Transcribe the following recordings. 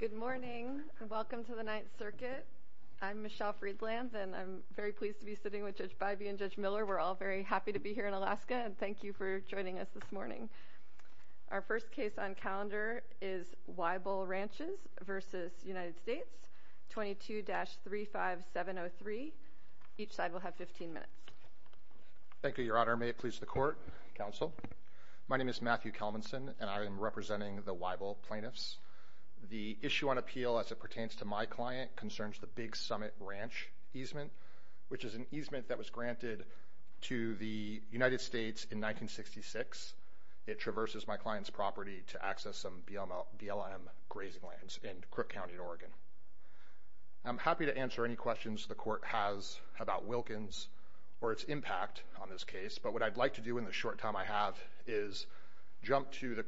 Good morning and welcome to the Ninth Circuit. I'm Michelle Friedland and I'm very pleased to be sitting with Judge Bybee and Judge Miller. We're all very happy to be here in Alaska and thank you for joining us this morning. Our first case on calendar is Weibel Ranches v. United States 22-35703. Each side will have 15 minutes. Thank you, Your Honor. May it please the Court, Counsel. My name is Matthew Kalmanson and I am representing the Weibel plaintiffs. The issue on appeal as it pertains to my client concerns the Big Summit Ranch easement, which is an easement that was granted to the United States in 1966. It traverses my client's property to access some BLM grazing lands in Crook County, Oregon. I'm happy to answer any questions the Court has about Wilkins or its impact on this case, but what I'd like to do in the short time I have is jump to the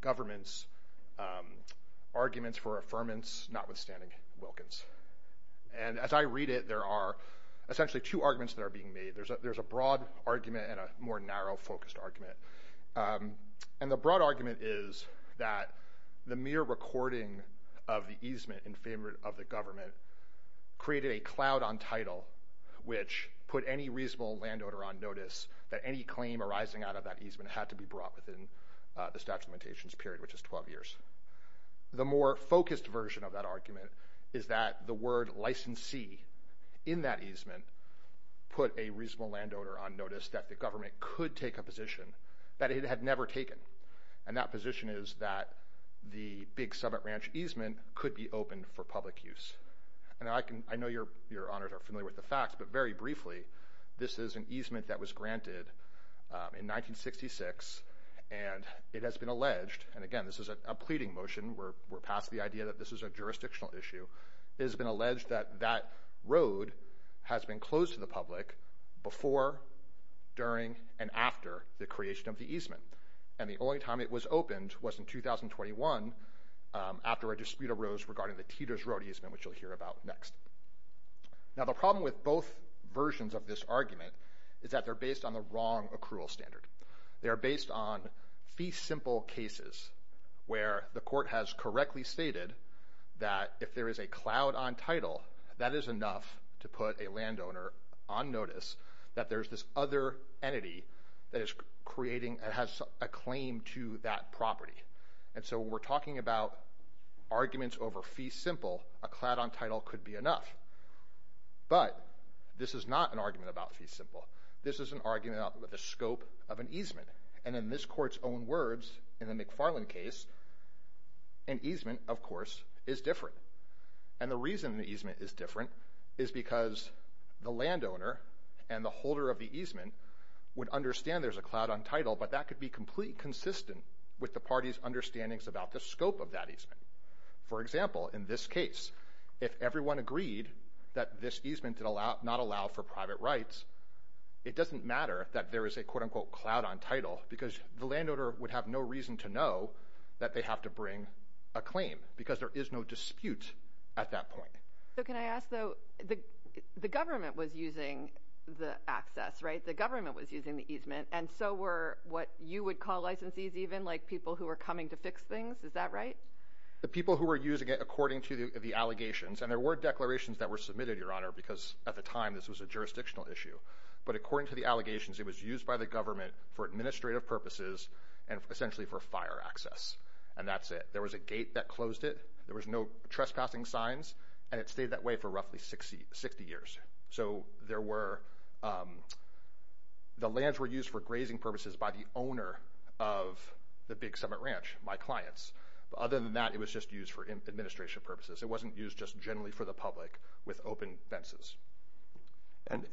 government's arguments for affirmance, notwithstanding Wilkins. And as I read it, there are essentially two arguments that are being made. There's a broad argument and a more narrow focused argument. And the broad argument is that the mere recording of the easement in favor of the government created a cloud on title, which put any reasonable landowner on easement had to be brought within the statute of limitations period, which is 12 years. The more focused version of that argument is that the word licensee in that easement put a reasonable landowner on notice that the government could take a position that it had never taken. And that position is that the Big Summit Ranch easement could be open for public use. And I know Your Honors are familiar with the facts, but very briefly, this is an easement that was granted in 1966, and it has been alleged, and again this is a pleading motion, we're past the idea that this is a jurisdictional issue, it has been alleged that that road has been closed to the public before, during, and after the creation of the easement. And the only time it was opened was in 2021, after a dispute arose regarding the Teter's Road easement, which you'll hear about next. Now the problem with both versions of this argument is that they're based on the wrong accrual standard. They are based on fee simple cases, where the court has correctly stated that if there is a cloud on title, that is enough to put a landowner on notice that there's this other entity that is creating, that has a claim to that property. And so we're talking about arguments over fee simple, a cloud on title is not an argument about fee simple. This is an argument about the scope of an easement. And in this court's own words, in the McFarland case, an easement, of course, is different. And the reason the easement is different is because the landowner and the holder of the easement would understand there's a cloud on title, but that could be completely consistent with the party's understandings about the scope of that easement. For example, in this case, if everyone agreed that this easement did not allow for private rights, it doesn't matter that there is a quote-unquote cloud on title, because the landowner would have no reason to know that they have to bring a claim, because there is no dispute at that point. So can I ask though, the government was using the access, right? The government was using the easement, and so were what you would call licensees even, like people who were coming to fix things, is that right? The people who were using it, according to the allegations, and there were declarations that were submitted, Your Honor. At the time, this was a jurisdictional issue. But according to the allegations, it was used by the government for administrative purposes and essentially for fire access, and that's it. There was a gate that closed it. There was no trespassing signs, and it stayed that way for roughly 60 years. So there were... The lands were used for grazing purposes by the owner of the Big Summit Ranch, my clients. But other than that, it was just used for administration purposes. It wasn't used just generally for the public with open fences.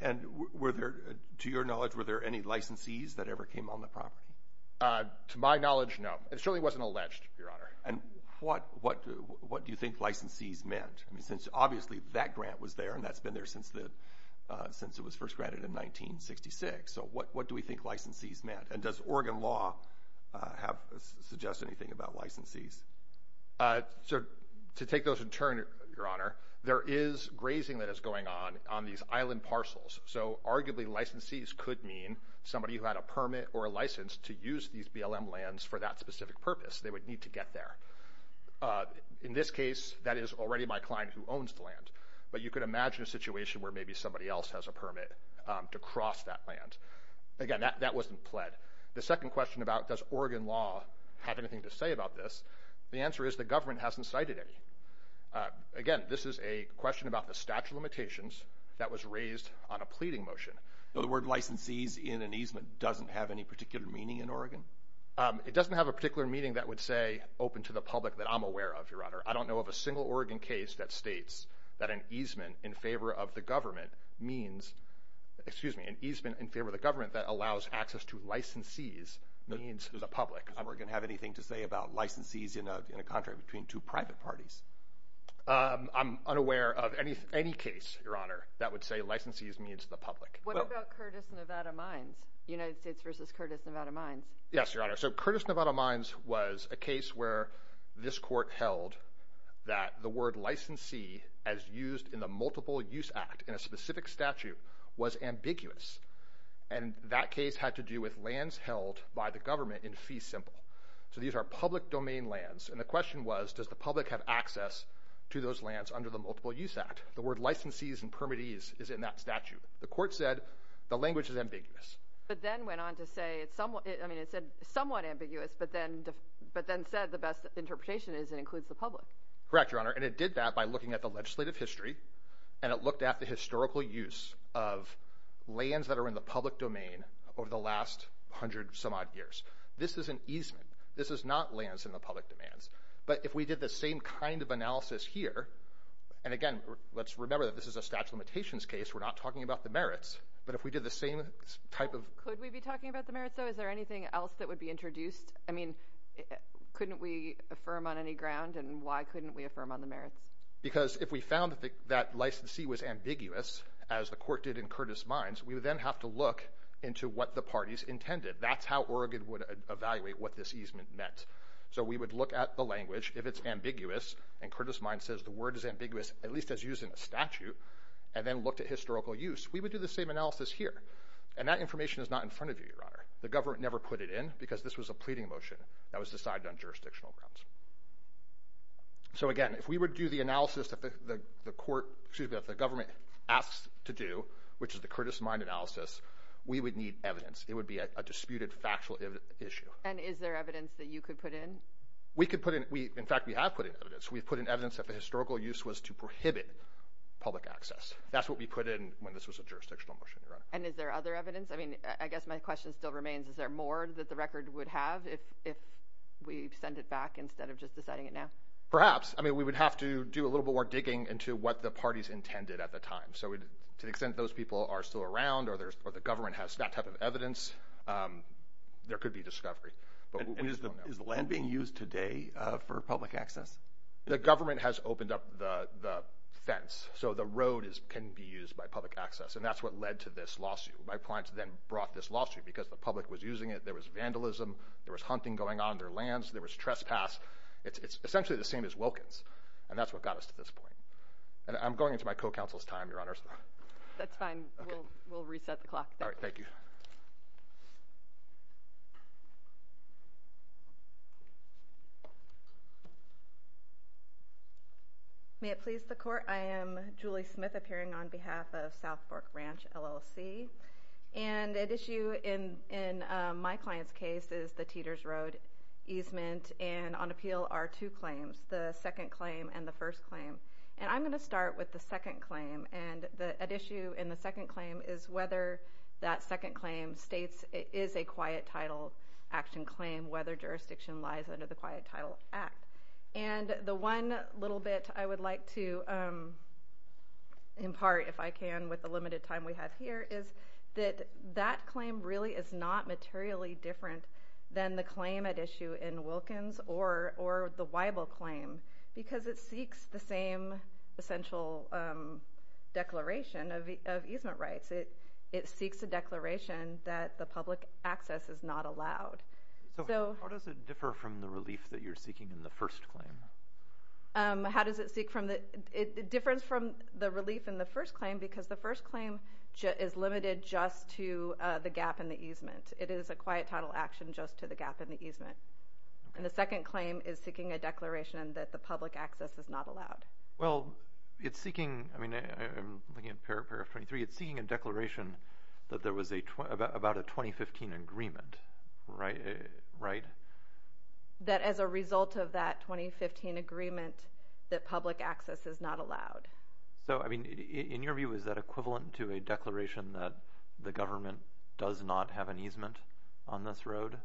And were there, to your knowledge, were there any licensees that ever came on the property? To my knowledge, no. It certainly wasn't alleged, Your Honor. And what do you think licensees meant? I mean, since obviously that grant was there, and that's been there since it was first granted in 1966. So what do we think licensees meant? And does Oregon law suggest anything about licensees? To take those in turn, Your Honor, there is grazing that is going on on these island parcels. So arguably, licensees could mean somebody who had a permit or a license to use these BLM lands for that specific purpose. They would need to get there. In this case, that is already my client who owns the land. But you could imagine a situation where maybe somebody else has a permit to cross that land. Again, that wasn't pled. The second question about, does Oregon law have anything to say about this? The answer is the government hasn't cited any. Again, this is a question about the statute limitations that was raised on a pleading motion. The word licensees in an easement doesn't have any particular meaning in Oregon? It doesn't have a particular meaning that would say, open to the public that I'm aware of, Your Honor. I don't know of a single Oregon case that states that an easement in favor of the government means... Excuse me, an easement in favor of the government that allows access to the public. Does Oregon have anything to say about licensees in a contract between two private parties? I'm unaware of any case, Your Honor, that would say licensees means the public. What about Curtis Nevada Mines, United States versus Curtis Nevada Mines? Yes, Your Honor. So Curtis Nevada Mines was a case where this court held that the word licensee as used in the Multiple Use Act in a specific statute was ambiguous. And that case had to do with lands held by the government in fee simple. So these are public domain lands. And the question was, does the public have access to those lands under the Multiple Use Act? The word licensees and permittees is in that statute. The court said, the language is ambiguous. But then went on to say, it's somewhat... I mean, it said somewhat ambiguous, but then said the best interpretation is it includes the public. Correct, Your Honor. And it did that by looking at the legislative history, and it looked at the historical use of lands that are in the public domain over the last 100 some odd years. This is an easement. This is not lands in the public demands. But if we did the same kind of analysis here, and again, let's remember that this is a statute of limitations case. We're not talking about the merits, but if we did the same type of... Could we be talking about the merits, though? Is there anything else that would be introduced? I mean, couldn't we affirm on any ground? And why couldn't we affirm on the merits? Because if we found that licensee was ambiguous, as the court did in Curtis Mines, we would then have to look into what the parties intended. That's how Oregon would evaluate what this easement meant. So we would look at the language, if it's ambiguous, and Curtis Mines says the word is ambiguous, at least as used in a statute, and then looked at historical use. We would do the same analysis here. And that information is not in front of you, Your Honor. The government never put it in, because this was a pleading motion that was decided on jurisdictional grounds. So again, if we would do the analysis that the court... Excuse me, that the government asks to do, which is the Curtis Mines analysis, we would need evidence. It would be a disputed factual issue. And is there evidence that you could put in? We could put in... In fact, we have put in evidence. We've put in evidence that the historical use was to prohibit public access. That's what we put in when this was a jurisdictional motion, Your Honor. And is there other evidence? I mean, I guess my question still remains, is there more that the record would have if we send it back instead of just deciding it now? Perhaps. I mean, we would have to do a little bit more digging into what the parties intended at the time. So to the extent those people are still around, or the government has that type of evidence, there could be discovery. And is the land being used today for public access? The government has opened up the fence, so the road can be used by public access, and that's what led to this lawsuit. My clients then brought this lawsuit, because the public was using it, there was vandalism, there was hunting going on in their lands, there was trespass. It's essentially the same as Wilkins, and that's what got us to this point. And I'm going into my co-counsel's time, Your Honor. That's fine. We'll reset the clock. Alright, thank you. May it please the court. I am Julie Smith, appearing on behalf of South My client's case is the Teeter's Road easement, and on appeal are two claims, the second claim and the first claim. And I'm gonna start with the second claim. And the issue in the second claim is whether that second claim states it is a quiet title action claim, whether jurisdiction lies under the Quiet Title Act. And the one little bit I would like to impart, if I can, with the limited time we have here, is that that claim really is not materially different than the claim at issue in Wilkins or the Weibel claim, because it seeks the same essential declaration of easement rights. It seeks a declaration that the public access is not allowed. So... How does it differ from the relief that you're seeking in the first claim? How does it seek from the... It differs from the relief in the first claim. The first claim is limited just to the gap in the easement. It is a quiet title action just to the gap in the easement. And the second claim is seeking a declaration that the public access is not allowed. Well, it's seeking... I mean, I'm looking at paragraph 23. It's seeking a declaration that there was about a 2015 agreement, right? That as a result of that 2015 agreement, that public access is not allowed. So, I mean, in your view, is that equivalent to a declaration that the government does not have an easement on this road?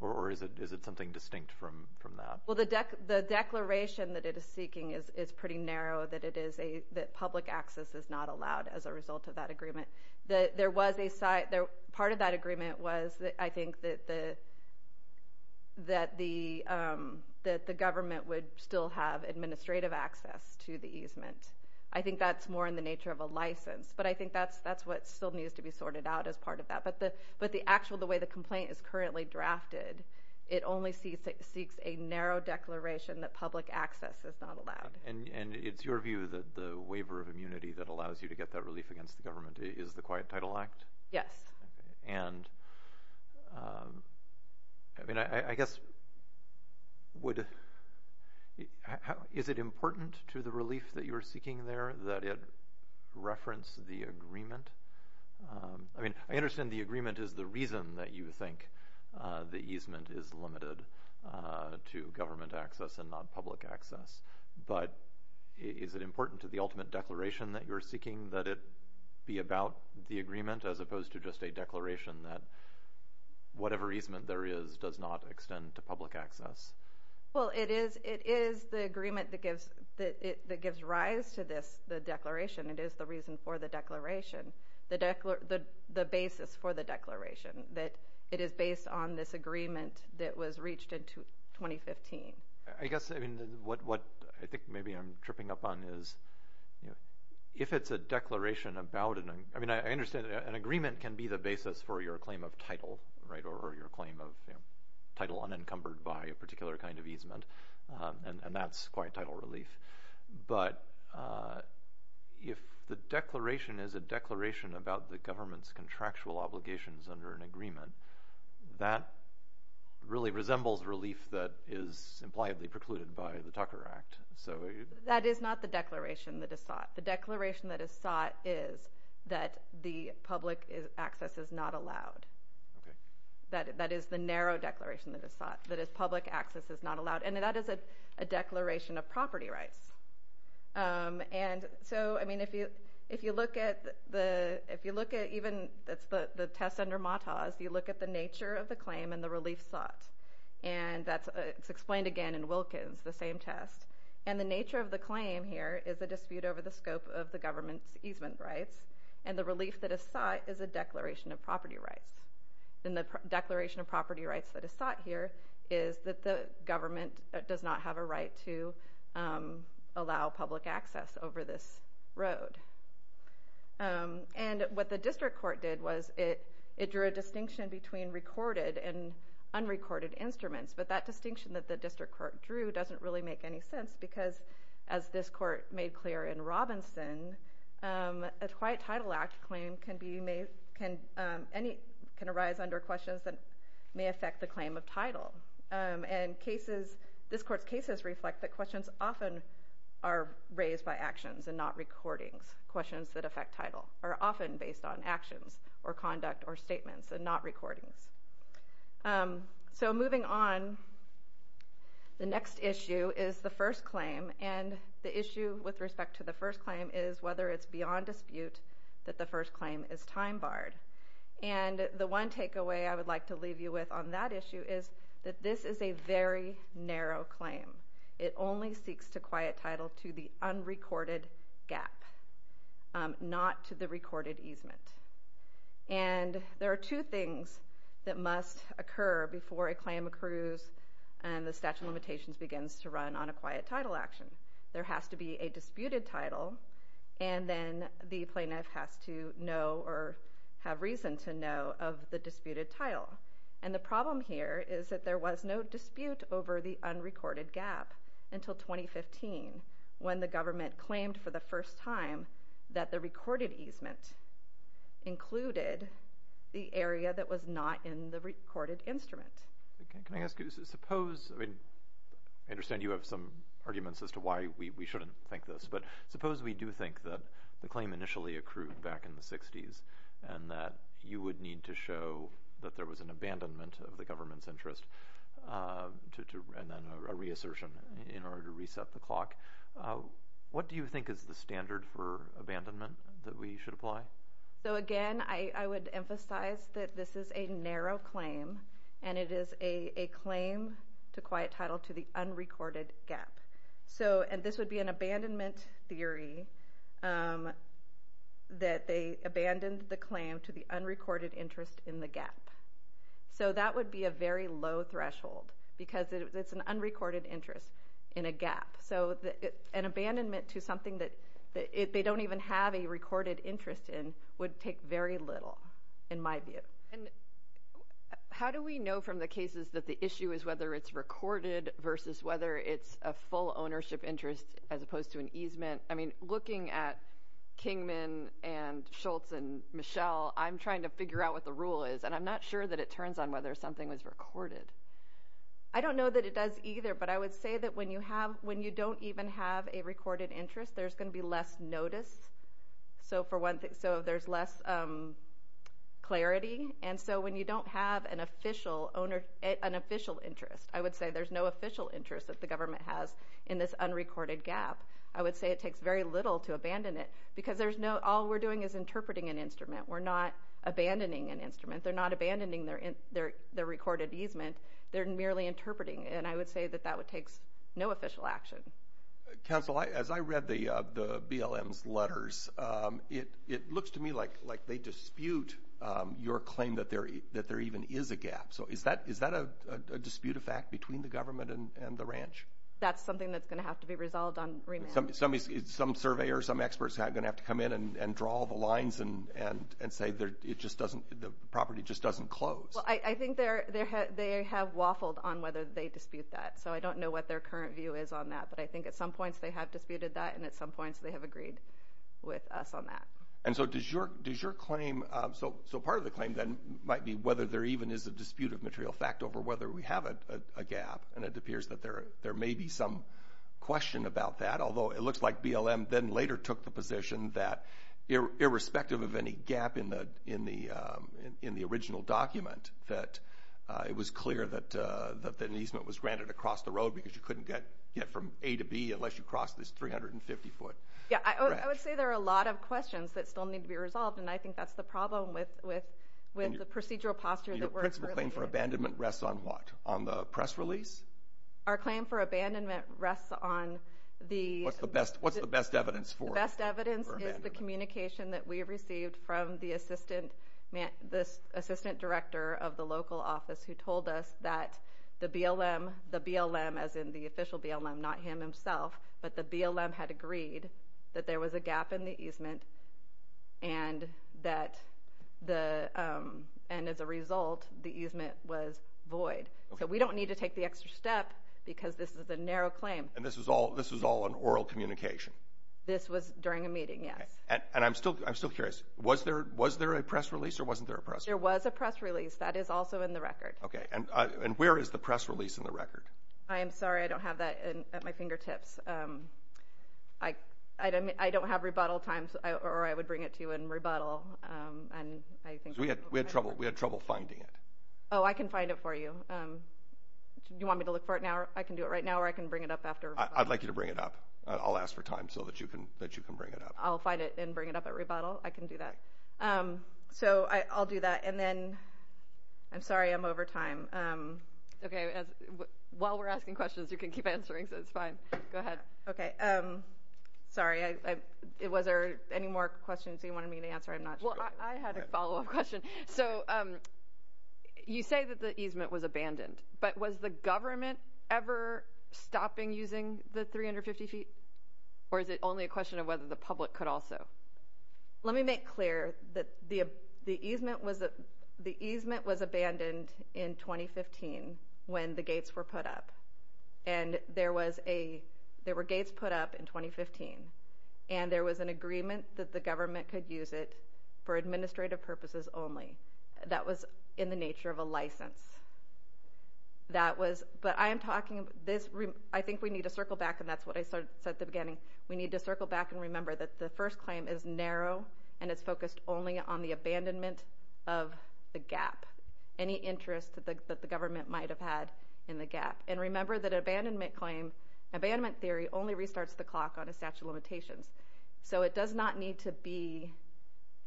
Or is it something distinct from that? Well, the declaration that it is seeking is pretty narrow, that it is a... That public access is not allowed as a result of that agreement. Part of that agreement was, I think, that the government would still have administrative access to the easement. I think that's more in the nature of a license, but I think that's what still needs to be sorted out as part of that. But the actual... The way the complaint is currently drafted, it only seeks a narrow declaration that public access is not allowed. And it's your view that the waiver of immunity that allows you to get that relief against the government is the Quiet Title Act? Yes. And I guess would... Is it important to the relief that you're seeking there that it reference the agreement? I mean, I understand the agreement is the reason that you think the easement is limited to government access and not public access, but is it important to the ultimate declaration that you're seeking that it be about the agreement as opposed to just a declaration that whatever easement there is does not extend to public access? Well, it is the agreement that gives rise to this, the declaration. It is the reason for the declaration, the basis for the declaration, that it is based on this agreement that was reached in 2015. I guess what I think maybe I'm tripping up on is if it's a declaration about an... I mean, I understand an agreement can be the basis for your claim of title, right? Or your claim of title unencumbered by a particular kind of easement, and that's quiet title relief. But if the declaration is a declaration about the government's contractual obligations under an agreement, that really resembles relief that is impliedly precluded by the Tucker Act. So... That is not the declaration that is sought. The declaration that is sought is that the public access is not allowed. Okay. That is the narrow declaration that is sought, that is public access is not allowed. And that is a declaration of property rights. And so, I mean, if you look at the... If you look at even... That's the test under MATAS, you look at the nature of the claim and the relief sought. And that's explained again in Wilkins, the same test. And the nature of the claim here is a dispute over the scope of the government's easement rights, and the relief that is sought is a declaration of property rights. And the declaration of property rights that is sought here is that the government does not have a right to allow public access over this road. And what the district court did was it drew a distinction between recorded and unrecorded instruments. But that distinction that the district court drew doesn't really make any sense because, as this court made clear in Robinson, a quiet title act claim can be made... Can arise under questions that may affect the claim of title. And cases... This court's cases reflect that questions often are raised by actions and not recordings. Questions that affect title are often based on actions or conduct or statements and not recordings. So moving on, the next issue is the first claim. And the issue with respect to the first claim is whether it's beyond dispute that the first claim is time barred. And the one takeaway I would like to leave you with on that issue is that this is a very narrow claim. It only seeks to quiet title to the unrecorded gap, not to the recorded easement. And there are two things that must occur before a claim accrues and the statute of limitations begins to run on a quiet title action. There has to be a disputed title, and then the plaintiff has to know or have reason to know of the disputed title. And the problem here is that there was no dispute over the unrecorded gap until 2015, when the government claimed for the first time that the recorded easement included the area that was not in the recorded instrument. Can I ask you, suppose... I understand you have some arguments as to why we shouldn't think this, but suppose we do think that the claim initially accrued back in the 60s and that you would need to show that there was an abandonment of the government's interest and then a reassertion in order to reset the clock. What do you think is the standard for abandonment that we should apply? So again, I would emphasize that this is a narrow claim and it is a claim to quiet title to the unrecorded gap. And this would be an abandonment theory that they abandoned the claim to the unrecorded interest in the gap. So that would be a very low threshold because it's an unrecorded interest in a gap. So an abandonment to something that they don't even have a recorded interest in would take very little, in my view. And how do we know from the cases that the issue is whether it's recorded versus whether it's a full ownership interest as opposed to an easement? Looking at Kingman and Schultz and Michelle, I'm trying to figure out what the rule is, and I'm not sure that it turns on whether something was recorded. I don't know that it does either, but I would say that when you don't even have a recorded interest, there's gonna be less notice. So for one thing... So there's less clarity. And so when you don't have an official interest, I would say there's no official interest that the government has in this unrecorded gap. I would say it takes very little to abandon it because there's no... They're not abandoning an instrument. They're not abandoning their recorded easement. They're merely interpreting. And I would say that that takes no official action. Counsel, as I read the BLM's letters, it looks to me like they dispute your claim that there even is a gap. So is that a dispute of fact between the government and the ranch? That's something that's gonna have to be resolved on remand. Some surveyors, some experts are gonna have to come in and draw the lines and say the property just doesn't close. Well, I think they have waffled on whether they dispute that. So I don't know what their current view is on that, but I think at some points they have disputed that and at some points they have agreed with us on that. And so does your claim... So part of the claim then might be whether there even is a dispute of material fact over whether we have a gap. And it appears that there may be some question about that, although it looks like BLM then later took the position that irrespective of any gap in the original document, that it was clear that an easement was granted across the road because you couldn't get from A to B unless you crossed this 350 foot... Yeah, I would say there are a lot of questions that still need to be resolved, and I think that's the problem with the procedural posture that we're... Your principle claim for abandonment rests on what? On the press release? Our claim for abandonment rests on the... What's the best evidence for abandonment? The best evidence is the communication that we received from the assistant director of the local office who told us that the BLM, the BLM as in the official BLM, not him himself, but the BLM had agreed that there was a gap in the easement and that the... And as a result, the easement was void. So we don't need to take the extra step because this is a oral communication? This was during a meeting, yes. And I'm still curious, was there a press release or wasn't there a press release? There was a press release, that is also in the record. Okay, and where is the press release in the record? I am sorry, I don't have that at my fingertips. I don't have rebuttal time or I would bring it to you in rebuttal and I think... We had trouble finding it. Oh, I can find it for you. Do you want me to look for it now? I can do it right now or I can bring it up after... I'd like you to bring it up. I'll ask for time so that you can bring it up. I'll find it and bring it up at rebuttal. I can do that. So I'll do that. And then... I'm sorry, I'm over time. Okay, while we're asking questions, you can keep answering, so it's fine. Go ahead. Okay. Sorry, was there any more questions you wanted me to answer? I'm not sure. Well, I had a follow up question. So you say that the easement was abandoned, but was the government ever stopping using the 350 feet or is it only a question of whether the public could also? Let me make clear that the easement was abandoned in 2015 when the gates were put up. And there were gates put up in 2015 and there was an agreement that the government could use it for administrative purposes only. That was in the nature of a license. That was... But I am talking about this... I think we need to circle back, and that's what I said at the beginning. We need to circle back and remember that the first claim is narrow and it's focused only on the abandonment of the gap. Any interest that the government might have had in the gap. And remember that abandonment claim, abandonment theory only restarts the clock on a statute of limitations. So it does not need to be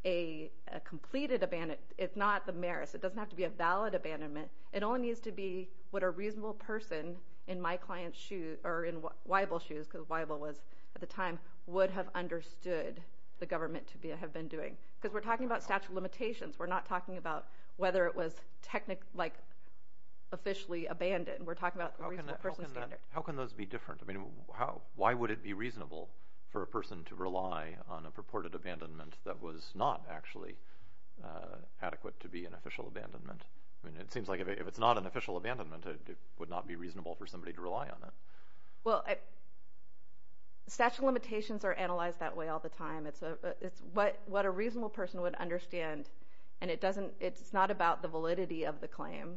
a completed abandonment. It's not the merits. It doesn't have to be a valid abandonment. It only needs to be what a reasonable person in my client's shoes, or in Weibel's shoes, because Weibel was at the time, would have understood the government to have been doing. Because we're talking about statute of limitations. We're not talking about whether it was technically, like officially abandoned. We're talking about the reasonable person standard. How can those be different? Why would it be reasonable for a person to rely on a purported abandonment that was not actually adequate to be an official abandonment? I mean, it seems like if it's not an official abandonment, it would not be reasonable for somebody to rely on it. Well, statute of limitations are analyzed that way all the time. It's what a reasonable person would understand. And it doesn't... It's not about the validity of the claim.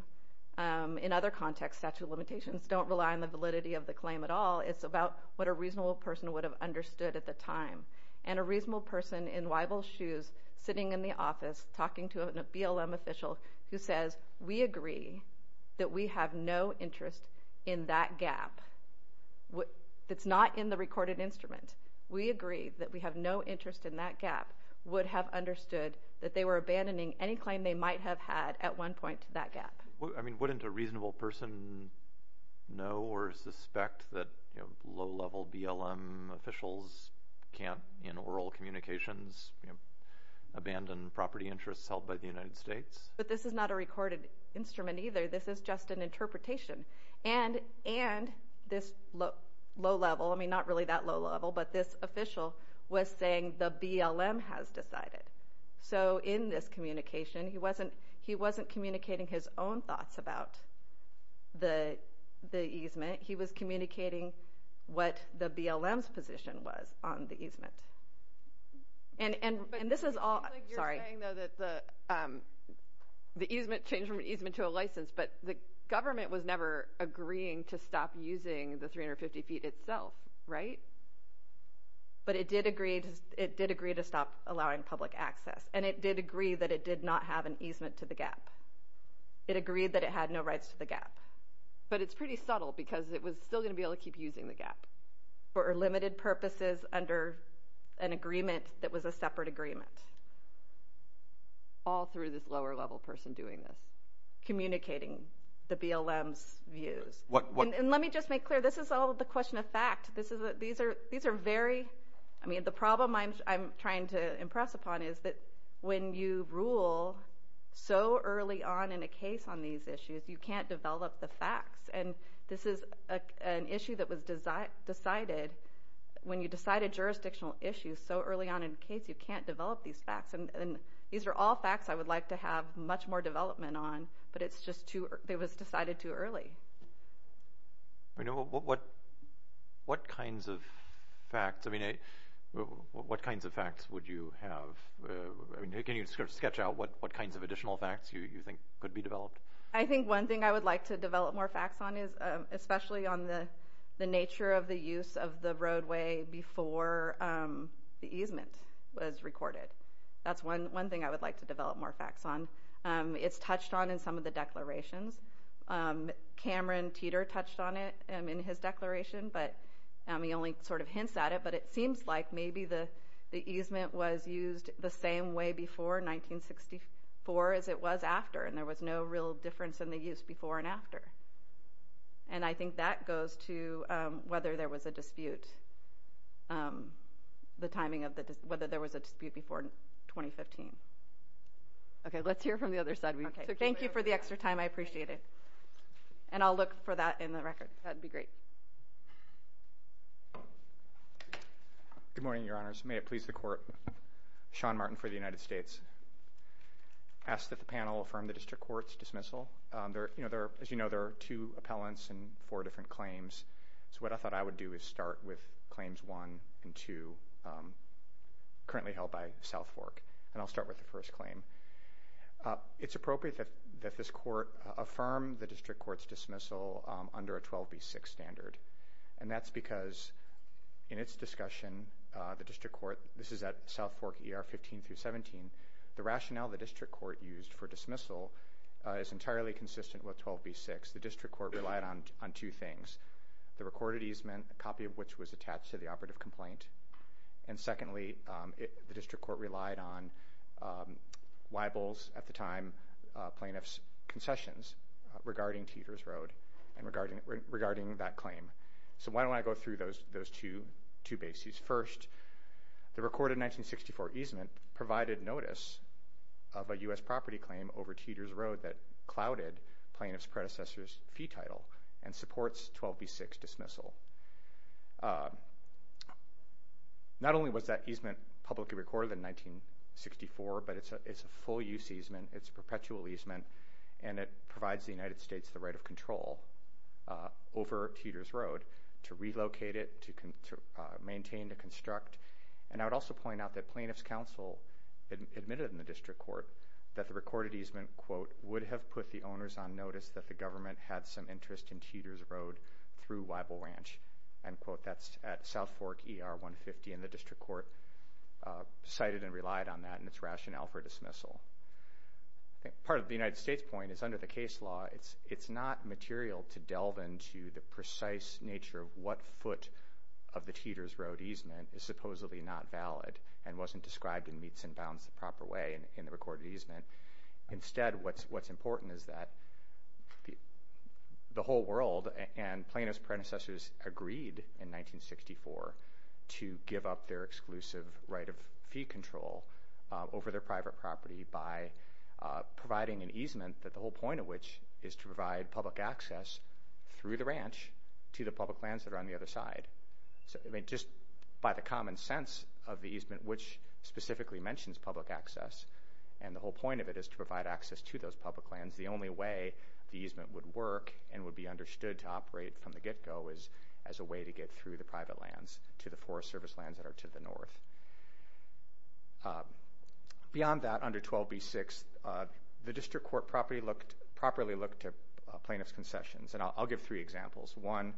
In other contexts, statute of limitations don't rely on the validity of the claim at all. It's about what a reasonable person would have understood at the time. And a reasonable person in Weibel's shoes, sitting in the office, talking to a BLM official who says, we agree that we have no interest in that gap. It's not in the recorded instrument. We agree that we have no interest in that gap, would have understood that they were abandoning any claim they might have had at one point to that gap. I mean, wouldn't a reasonable person know or suspect that low level BLM officials can't, in oral communications, abandon property interests held by the United States? But this is not a recorded instrument either. This is just an interpretation. And this low level, I mean, not really that low level, but this official was saying the BLM has decided. So in this communication, he wasn't communicating his own thoughts about the easement. He was communicating what the BLM's position was on the easement. And this is all... Sorry. It seems like you're saying, though, that the easement changed from an easement to a license, but the government was never agreeing to stop using the 350 feet itself, right? But it did agree to stop allowing public access, and it did agree that it did not have an easement to the gap. It agreed that it had no rights to the gap. But it's pretty subtle, because it was still gonna be able to keep using the gap for limited purposes under an agreement that was a separate agreement, all through this lower level person doing this, communicating the BLM's views. What... And let me just make clear, this is all the question of fact. These are very... I mean, the problem I'm trying to impress upon is that when you rule so early on in a case on these issues, you can't develop the facts. And this is an issue that was decided when you decided jurisdictional issues so early on in a case, you can't develop these facts. And these are all facts I would like to have much more development on, but it's just too... It was decided too early. What kinds of facts... I mean, can you sketch out what kinds of additional facts you think could be developed? I think one thing I would like to develop more facts on is, especially on the nature of the use of the roadway before the easement was recorded. That's one thing I would like to develop more facts on. It's touched on in some of the declarations. Cameron Teeter touched on it in his declaration, but he only hints at it. But it seems like maybe the easement was used the same way before 1964 as it was after, and there was no real difference in the use before and after. And I think that goes to whether there was a dispute, the timing of the... Whether there was a dispute before 2015. Okay, let's hear from the other side. Okay. Thank you for the extra time. I appreciate it. And I'll look for that in the record. That'd be great. Good morning, Your Honors. May it please the Court. Sean Martin for the United States. Asked that the panel affirm the district court's dismissal. As you know, there are two appellants and four different claims. So what I thought I would do is start with claims one and two, currently held by South Fork. And I'll start with the first claim. It's appropriate that this court affirm the district court's dismissal under a 12B6 standard. And that's because in its discussion, the district court... This is at South Fork ER 15 through 17. The rationale the district court used for dismissal is entirely consistent with 12B6. The district court relied on two things. The recorded easement, a copy of which was attached to the operative complaint. And secondly, the district court relied on libels at the time, plaintiff's concessions regarding Teeter's Road and regarding that claim. So why don't I go through those two bases? First, the recorded 1964 easement provided notice of a US property claim over Teeter's Road that clouded plaintiff's predecessor's fee title and supports 12B6 dismissal. Not only was that easement publicly recorded in 1964, but it's a full use easement, it's a perpetual easement, and it provides the United States the right of control over Teeter's Road to relocate it, to maintain, to construct. And I would also point out that plaintiff's counsel admitted in the district court that the recorded easement, would have put the owners on notice that the government had some interest in Teeter's Road through Weibel Ranch. And that's at South Fork ER 150, and the district court cited and relied on that and its rationale for dismissal. Part of the United States point is under the case law, it's not material to delve into the precise nature of what foot of the Teeter's Road easement is supposedly not valid and wasn't described in meets and bounds the proper way in the recorded easement. Instead, what's important is that the whole world and plaintiff's predecessors agreed in 1964 to give up their exclusive right of fee control over their private property by providing an easement that the whole point of which is to provide public access through the ranch to the public lands that are on the other side. Just by the common sense of the easement, which specifically mentions public access, and the whole point of it is to provide access to those public lands, the only way the easement would work and would be understood to operate from the get go is as a way to get through the private lands to the forest service lands that are to the north. Beyond that, under 12B6, the district court properly looked to plaintiff's concessions and I'll give three examples. One,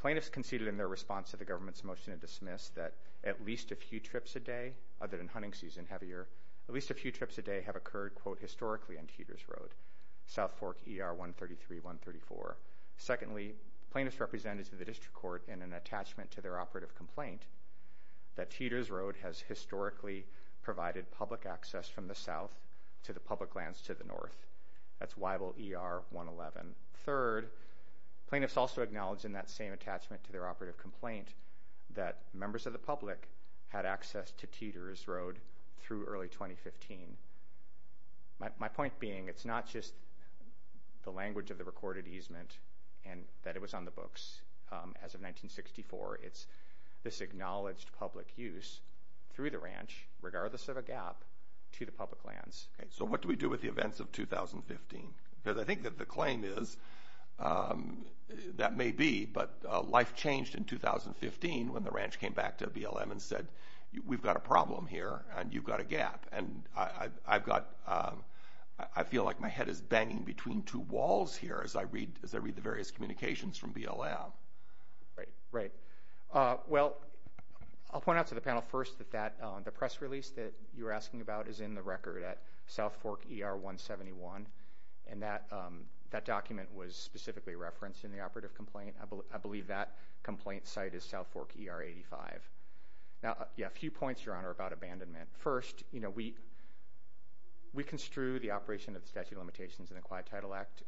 plaintiffs conceded in their response to the government's motion to dismiss that at least a few trips a day, other than hunting season heavier, at least a few trips a day have occurred, quote, historically on Teeter's Road, South Fork ER 133, 134. Secondly, plaintiffs represented to the district court in an attachment to their operative complaint that Teeter's Road has historically provided public access from the south to the public lands to the north. That's Weibull ER 111. Third, plaintiffs also acknowledged in that same attachment to their operative complaint that members of the public had access to Teeter's Road through early 2015. My point being, it's not just the language of the recorded easement and that it was on the record that they acknowledged public use through the ranch, regardless of a gap, to the public lands. Okay, so what do we do with the events of 2015? Because I think that the claim is, that may be, but life changed in 2015 when the ranch came back to BLM and said, we've got a problem here and you've got a gap. And I've got... I feel like my head is banging between two walls here as I read the various communications from BLM. Right, right. Well, I'll point out to the panel first that the press release that you were asking about is in the record at South Fork ER 171, and that document was specifically referenced in the operative complaint. I believe that complaint site is South Fork ER 85. Now, a few points, Your Honor, about abandonment. First, we construe the operation of the statute of limitations in the Quiet Title Act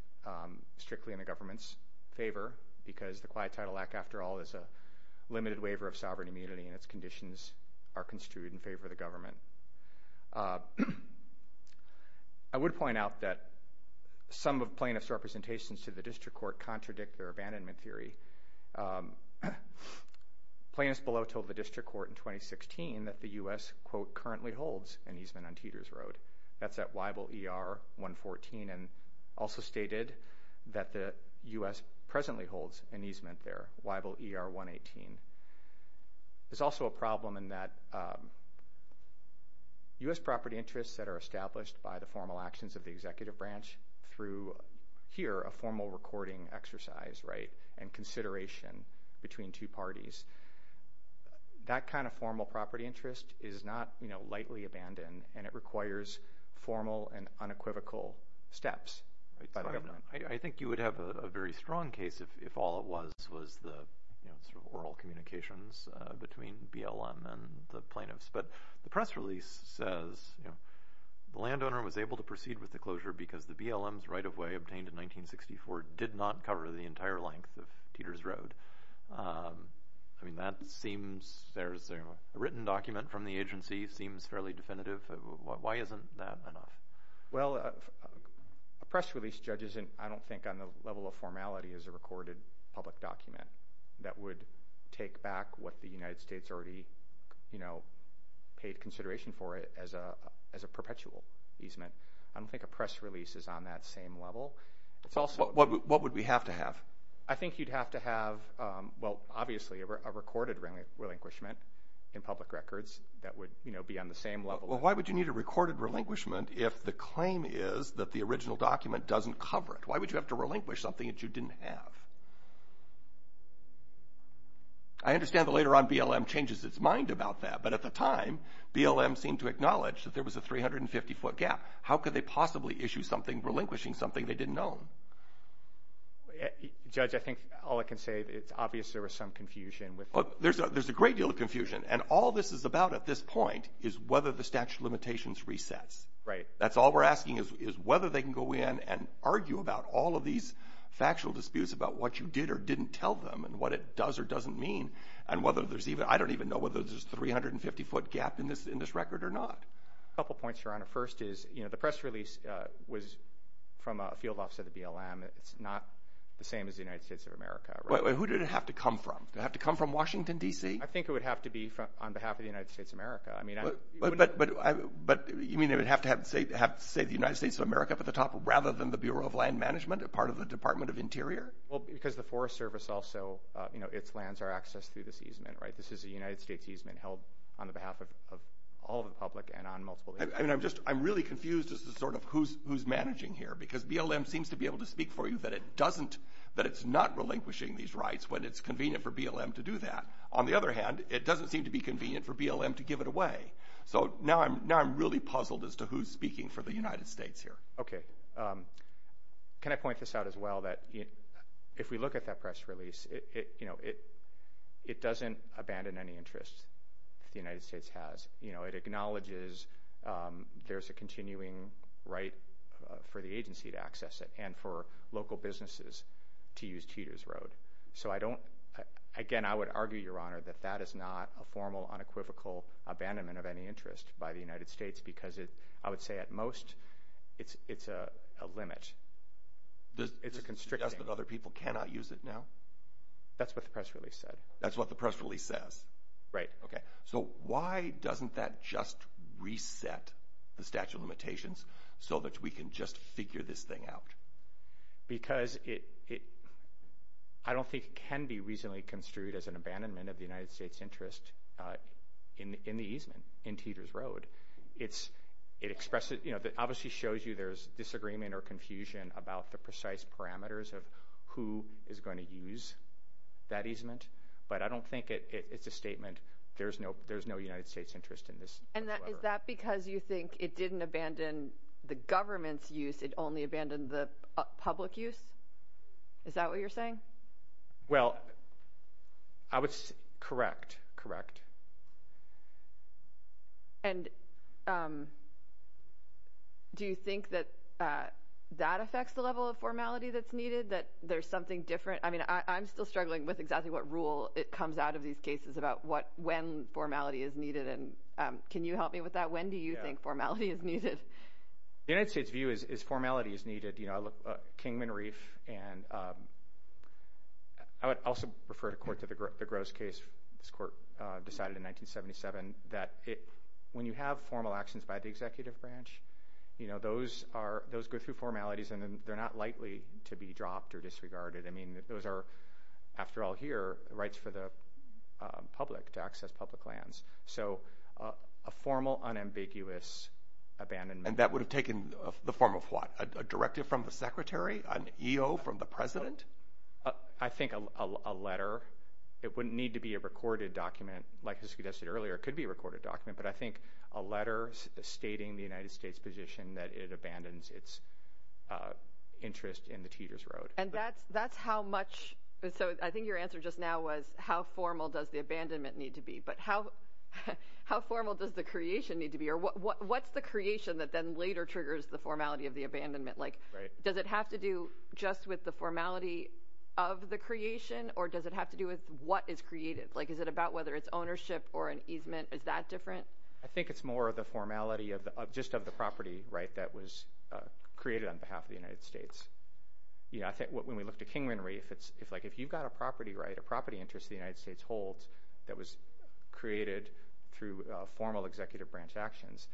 strictly in the government's favor, because the Quiet Title Act, after all, is a limited waiver of sovereign immunity and its conditions are construed in favor of the government. I would point out that some of plaintiff's representations to the district court contradict their abandonment theory. Plaintiff's below told the district court in 2016 that the US, quote, currently holds an easement on Teter's Road. That's at Weibel ER 114, and also stated that the US presently holds an easement there, Weibel ER 118. There's also a problem in that US property interests that are established by the formal actions of the executive branch through here, a formal recording exercise, right, and consideration between two parties. That kind of formal property interest is not lightly abandoned, and it requires formal and unequivocal steps by the government. I think you would have a very strong case if all it was was the oral communications between BLM and the plaintiffs. But the press release says, you know, the landowner was able to proceed with the closure because the BLM's right of way obtained in 1964 did not cover the entire length of Teter's Road. I mean, that seems... There's a written document from the agency, seems fairly definitive. Why isn't that enough? Well, a press release, judges, I don't think on the level of formality, is a recorded public document that would take back what the United States already paid consideration for it as a perpetual easement. I don't think a press release is on that same level. What would we have to have? I think you'd have to have, well, obviously, a recorded relinquishment in public records that would be on the same level. Well, why would you need a recorded relinquishment if the claim is that the original document doesn't cover it? Why would you have to relinquish something that you didn't have? I understand that later on, BLM changes its mind about that, but at the time, BLM seemed to acknowledge that there was a 350 foot gap. How could they possibly issue something relinquishing something they didn't own? Judge, I think all I can say, it's obvious there was some confusion with... There's a great deal of confusion, and all this is about at this point is whether the statute of limitations resets. Right. That's all we're asking is whether they can go in and argue about all of these factual disputes about what you did or didn't tell them and what it does or doesn't mean, and whether there's even... I don't even know whether there's 350 foot gap in this record or not. A couple of points, Your Honor. First is, the press release was from a field officer at the BLM. It's not the same as the United States of America. Who did it have to come from? Did it have to come from Washington, DC? I think it would have to be on behalf of the United States of America. But you mean it would have to have to say the United States of America up at the top rather than the Bureau of Land Management, a part of the Department of Interior? Well, because the Forest Service also, its lands are accessed through this easement, right? This is a United States easement held on the behalf of all of the public and on multiple... I'm really confused as to sort of who's managing here, because BLM seems to be able to speak for you that it doesn't... That it's not relinquishing these rights when it's convenient for BLM to do that. On the other hand, it doesn't seem to be convenient for BLM to give it away. So now I'm really puzzled as to who's speaking for the United States here. Okay. Can I point this out as well that if we look at that press release, it doesn't abandon any interests that the United States has. It acknowledges there's a continuing right for the agency to access it and for local authorities. I would argue, Your Honor, that that is not a formal, unequivocal abandonment of any interest by the United States, because I would say at most, it's a limit. It's a constricting... Does it suggest that other people cannot use it now? That's what the press release said. That's what the press release says? Right. Okay. So why doesn't that just reset the statute of limitations so that we can just figure this thing out? Because I don't think it can be reasonably construed as an abandonment of the United States' interest in the easement in Teeter's Road. It expresses... It obviously shows you there's disagreement or confusion about the precise parameters of who is going to use that easement, but I don't think it's a statement, there's no United States interest in this. And is that because you think it didn't abandon the public use? Is that what you're saying? Well, I would say... Correct, correct. And do you think that that affects the level of formality that's needed, that there's something different? I'm still struggling with exactly what rule it comes out of these cases about when formality is needed, and can you help me with that? When do you think formality is needed? The United States' view is formality is needed. I look at Kingman Reef and I would also refer the court to the Grose case. This court decided in 1977 that when you have formal actions by the executive branch, those go through formalities and then they're not likely to be dropped or disregarded. Those are, after all here, rights for the public to access public lands. So a formal, unambiguous abandonment. And that would have taken the form of what? A directive from the secretary? An EO from the president? I think a letter. It wouldn't need to be a recorded document like you suggested earlier. It could be a recorded document, but I think a letter stating the United States position that it abandons its interest in the Teeter's Road. And that's how much... So I think your answer just now was, how formal does the abandonment need to be? But how formal does the creation need to be? Or what's the creation that then later triggers the formality of the abandonment? Does it have to do just with the formality of the creation or does it have to do with what is created? Is it about whether it's ownership or an easement? Is that different? I think it's more of the formality of just of the property that was created on behalf of the United States. When we look to Kingman Reef, if you've got a property, a property that's in the interest of the United States holds, that was created through formal executive branch actions.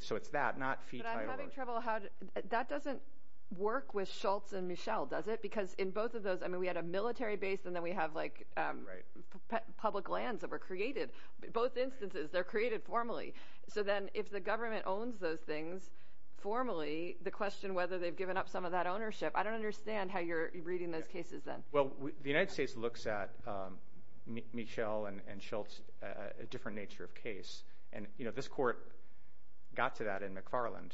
So it's that, not fee title or... But I'm having trouble how to... That doesn't work with Schultz and Michel, does it? Because in both of those, we had a military base and then we have public lands that were created. Both instances, they're created formally. So then if the government owns those things formally, the question whether they've given up some of that ownership, I don't understand how you're reading those cases then. Well, the United States looks at Michel and Schultz, a different nature of case. And this court got to that in McFarland.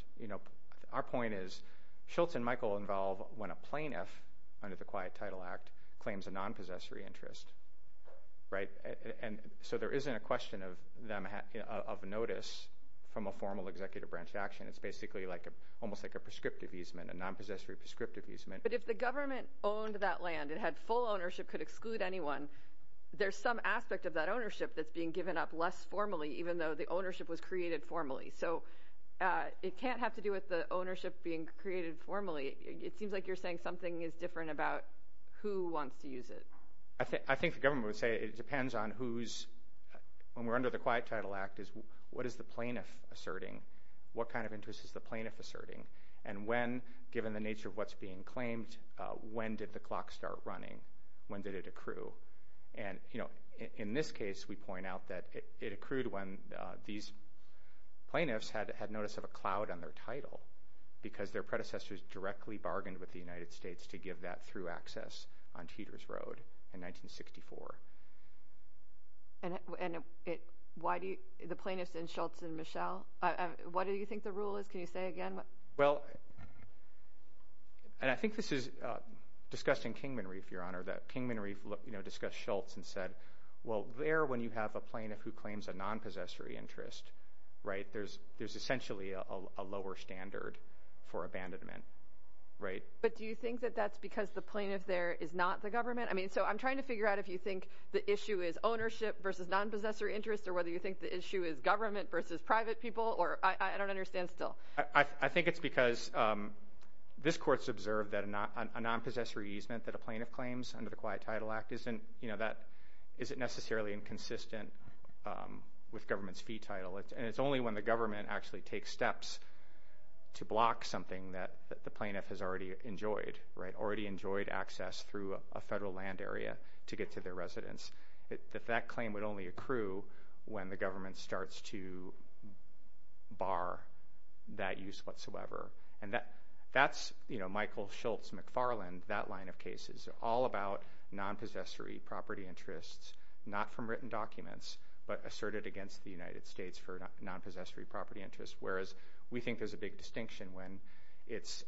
Our point is, Schultz and Michel involve when a plaintiff, under the Quiet Title Act, claims a non possessory interest. So there isn't a question of notice from a formal executive branch action. It's basically almost like a prescriptive easement, a non possessory prescriptive easement. But if the government owned that land, it had full ownership, could exclude anyone, there's some aspect of that ownership that's being given up less formally, even though the ownership was created formally. So it can't have to do with the ownership being created formally. It seems like you're saying something is different about who wants to use it. I think the government would say it depends on who's... When we're under the Quiet Title Act, is what is the plaintiff asserting? What kind of interest is the plaintiff asserting? And when, given the nature of what's being claimed, when did the clock start running? When did it accrue? And in this case, we point out that it accrued when these plaintiffs had notice of a cloud on their title, because their predecessors directly bargained with the United States to give that through access on Cheaters Road in 1964. And why do you... The plaintiffs in Schultz and Michel, what do you think the rule is? Can you say again? Well, and I think this is discussed in Kingman Reef, Your Honor, that Kingman Reef discussed Schultz and said, well, there when you have a plaintiff who claims a non possessory interest, there's essentially a lower standard for abandonment. But do you think that that's because the plaintiff there is not the government? I mean, so I'm trying to figure out if you think the issue is ownership versus non possessory interest or whether you think the issue is government versus private people or... I don't understand still. I think it's because this court's observed that a non possessory easement that a plaintiff claims under the Quiet Title Act isn't... That isn't necessarily inconsistent with government's fee title. And it's only when the government actually takes steps to block something that the plaintiff has already enjoyed, right? Already enjoyed access through a federal land area to get to their residence. If that claim would only accrue when the government starts to bar that use whatsoever. And that's Michael Schultz, McFarland, that line of cases. They're all about non possessory property interests, not from written documents, but asserted against the United States for non possessory property interests. Whereas we think there's a big distinction when it's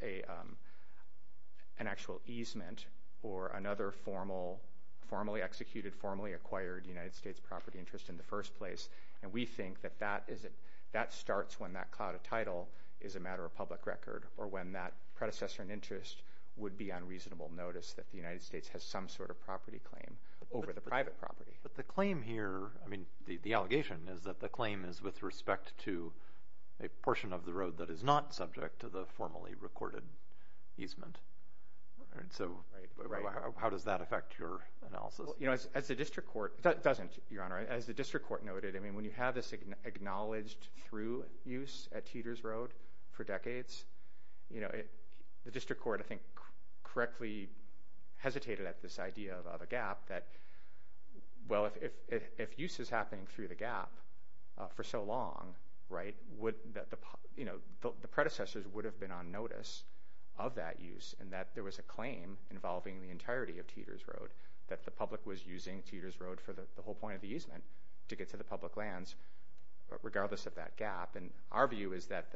an actual easement or another formally executed, formally acquired United States property interest in the first place. And we think that that starts when that cloud of title is a matter of public record, or when that predecessor and interest would be on reasonable notice that the United States has some sort of property claim over the private property. But the claim here, the allegation is that the claim is with respect to a portion of the road that is not subject to the formally recorded easement. So how does that affect your analysis? As a district court... It doesn't, Your Honor. As the district court noted, when you have this acknowledged through use at Teeter's Road for decades, the district court, I think, correctly hesitated at this idea of a gap that, well, if use is happening through the gap for so long, the predecessors would have been on notice of that use, and that there was a claim involving the entirety of Teeter's Road, that the public was using Teeter's Road for the whole point of the easement to get to the public lands, regardless of that gap. And our view is that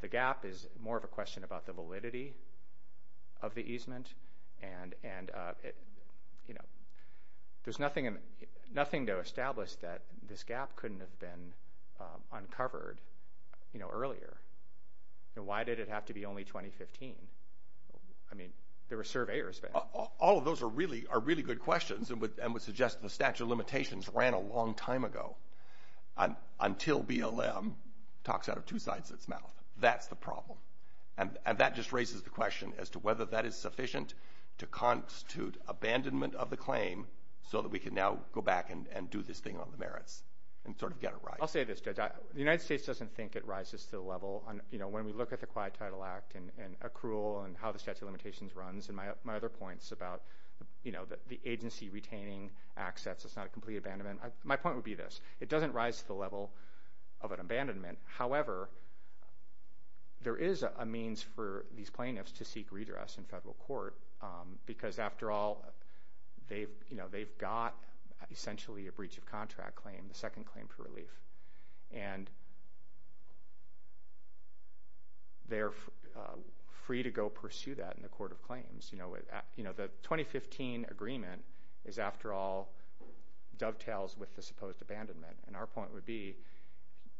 the gap is more of a question about the validity of the easement, and there's nothing to establish that this gap couldn't have been uncovered earlier. Why did it have to be only 2015? I mean, there were surveyors... All of those are really good questions, and would suggest the statute of limitations ran a long time ago until BLM talks out of two sides of its mouth. That's the problem. And that just raises the question as to whether that is sufficient to constitute abandonment of the claim, so that we can now go back and do this thing on the merits, and sort of get it right. I'll say this, Judge. The United States doesn't think it rises to the level... When we look at the Quiet Title Act and accrual, and how the statute of limitations runs, and my other points about the agency retaining access, it's not a complete abandonment. My point would be this. It doesn't rise to the level of an abandonment. However, there is a means for these plaintiffs to seek redress in federal court, because after all, they've got essentially a breach of contract claim, the second claim for relief. And they're free to go pursue that in the court of claims. The 2015 agreement is, after all, dovetails with the supposed abandonment. And our point would be,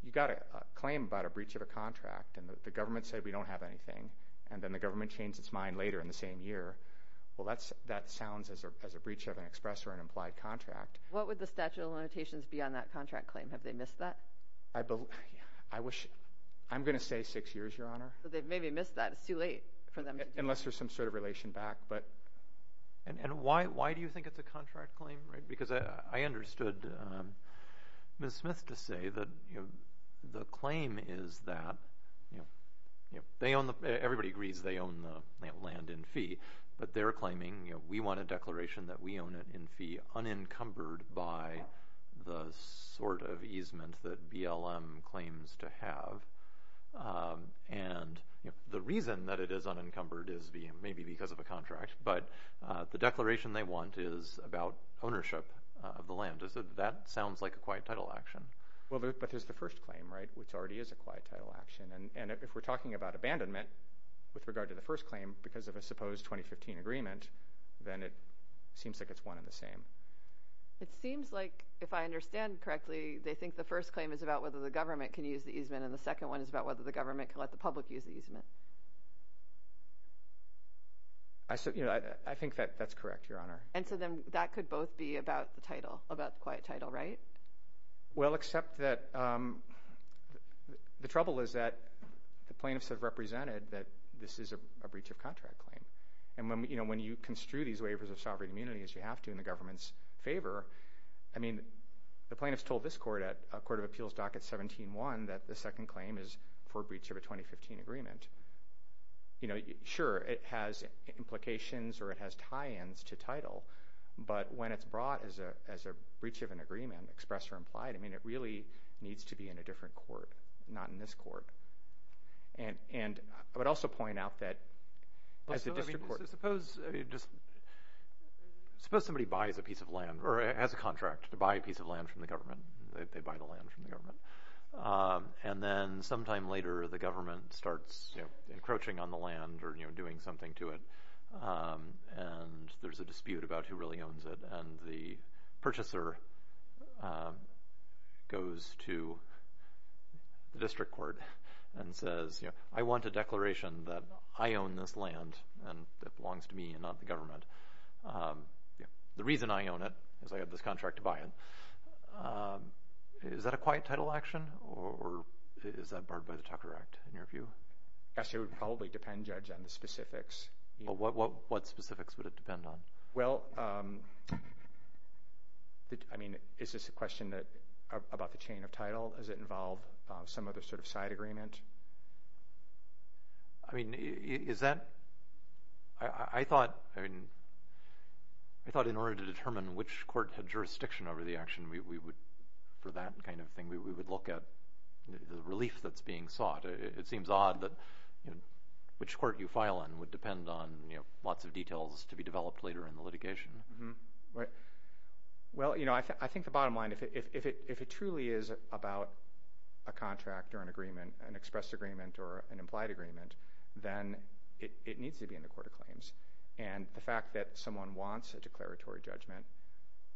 you got a claim about a breach of a contract, and the government said, we don't have anything, and then the government changed its mind later in the same year. Well, that sounds as a breach of an express or an implied contract. What would the statute of limitations be on that contract claim? Have they missed that? I believe... I wish... I'm gonna say six years, Your Honor. They've maybe missed that. It's too late for them to do that. Unless there's some sort of relation back, but... And why do you think it's a contract claim? Right? Because I understood Ms. Smith to say that the claim is that... Everybody agrees they own the land in fee, but they're claiming we want a declaration that we own it in fee, unencumbered by the sort of easement that BLM claims to have. And the reason that it is unencumbered is maybe because of a contract, but the declaration they want is about ownership of the land. That sounds like a quiet title action. Well, but there's the first claim, right, which already is a quiet title action. And if we're talking about abandonment with regard to the first claim, because of a supposed 2015 agreement, then it seems like it's one and the same. It seems like, if I understand correctly, they think the first claim is about whether the government can use the easement, and the second one is about whether the government can let the public use the easement. I think that that's correct, Your Honor. And so then that could both be about the title, about the quiet title, right? Well, except that... The trouble is that the plaintiffs have represented that this is a breach of contract claim. And when you construe these waivers of sovereign immunity, as you have to in the government's favor, the plaintiffs told this court at a court of appeals docket 17-1 that the second claim is for breach of a 2015 agreement. Sure, it has implications or it has tie ins to title, but when it's brought as a breach of an agreement, express or implied, it really needs to be in a different court, not in this court. And I would also point out that as a district court... Suppose somebody buys a piece of land, or has a contract to buy a piece of land from the government, they buy the land from the government, and then sometime later, the government starts encroaching on the land or doing something to it, and there's a dispute about who really owns it, and the purchaser goes to the district court and says, I want a declaration that I own this land, and it belongs to me and not the government. The reason I own it is I have this contract to buy it. Is that a quiet title action, or is that barred by the Tucker Act, in your view? Yes, it would probably depend, Judge, on the specifics. What specifics would it depend on? Well, I mean, is this a question about the chain of title? Does it involve some other sort of side agreement? I mean, is that... I thought in order to determine which court had jurisdiction over the action, we would, for that kind of thing, we would look at the relief that's being sought. It seems odd that which court you file in would depend on lots of details to be clear. Well, I think the bottom line, if it truly is about a contract or an agreement, an expressed agreement or an implied agreement, then it needs to be in the court of claims. And the fact that someone wants a declaratory judgment,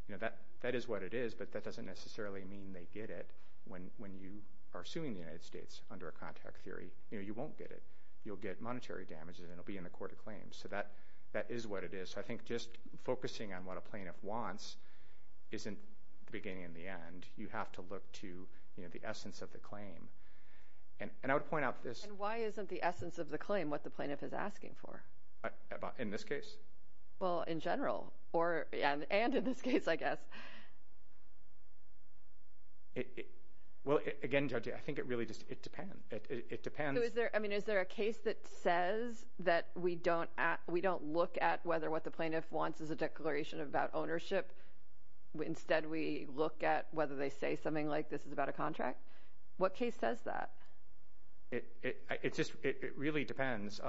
that is what it is, but that doesn't necessarily mean they get it when you are suing the United States under a contract theory. You won't get it. You'll get monetary damages and it'll be in the court of claims. So that is what it is. I think just focusing on what a plaintiff wants isn't the beginning and the end. You have to look to the essence of the claim. And I would point out this... And why isn't the essence of the claim what the plaintiff is asking for? In this case? Well, in general, and in this case, I guess. Well, again, Judge, I think it really just... It depends. It depends... I mean, is there a case that says that we don't look at whether what the plaintiff wants is a declaration about ownership? Instead, we look at whether they say something like, this is about a contract? What case says that? It really depends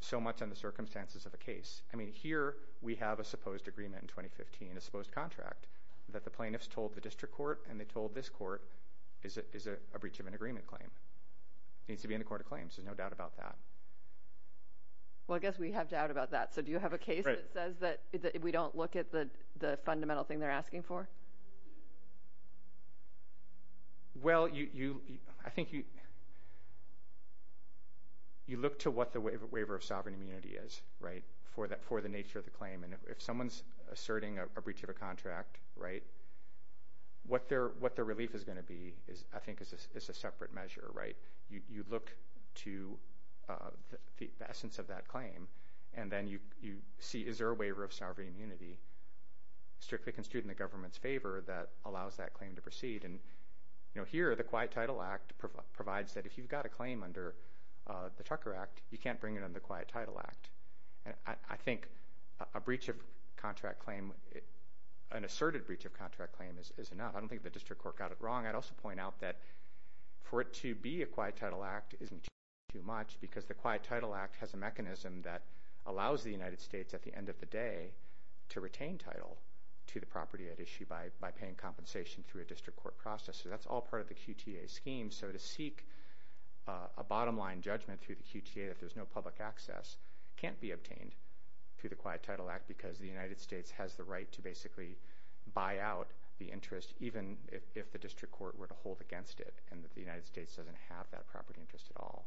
so much on the circumstances of a case. I mean, here, we have a supposed agreement in 2015, a supposed contract that the plaintiffs told the district court and they told this court is a breach of an agreement claim. Needs to be in the court of claims. There's no doubt about that. Well, I guess we have doubt about that. So do you have a case that says that we don't look at the fundamental thing they're asking for? Well, you... I think you look to what the waiver of sovereign immunity is for the nature of the claim. And if someone's asserting a breach of a contract, what their relief is gonna be is, I think, is a essence of that claim. And then you see, is there a waiver of sovereign immunity strictly construed in the government's favor that allows that claim to proceed? And here, the Quiet Title Act provides that if you've got a claim under the Tucker Act, you can't bring it under the Quiet Title Act. And I think a breach of contract claim, an asserted breach of contract claim is enough. I don't think the district court got it wrong. I'd also point out that for it to be a Quiet Title Act isn't too much because the Act has a mechanism that allows the United States at the end of the day to retain title to the property at issue by paying compensation through a district court process. So that's all part of the QTA scheme. So to seek a bottom line judgment through the QTA that there's no public access can't be obtained through the Quiet Title Act because the United States has the right to basically buy out the interest even if the district court were to hold against it and that the United States doesn't have that property interest at all.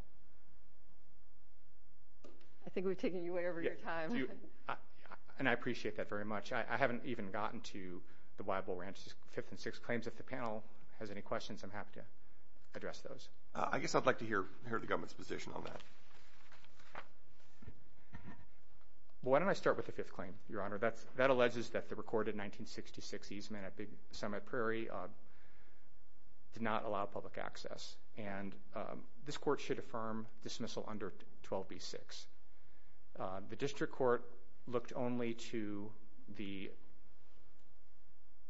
I think we've taken you way over your time. And I appreciate that very much. I haven't even gotten to the Weibull Ranch's fifth and sixth claims. If the panel has any questions, I'm happy to address those. I guess I'd like to hear the government's position on that. Why don't I start with the fifth claim, Your Honor? That alleges that the recorded 1966 easement at Big Summit Prairie did not allow public access. And this court should affirm dismissal under 12B6. The district court looked only to the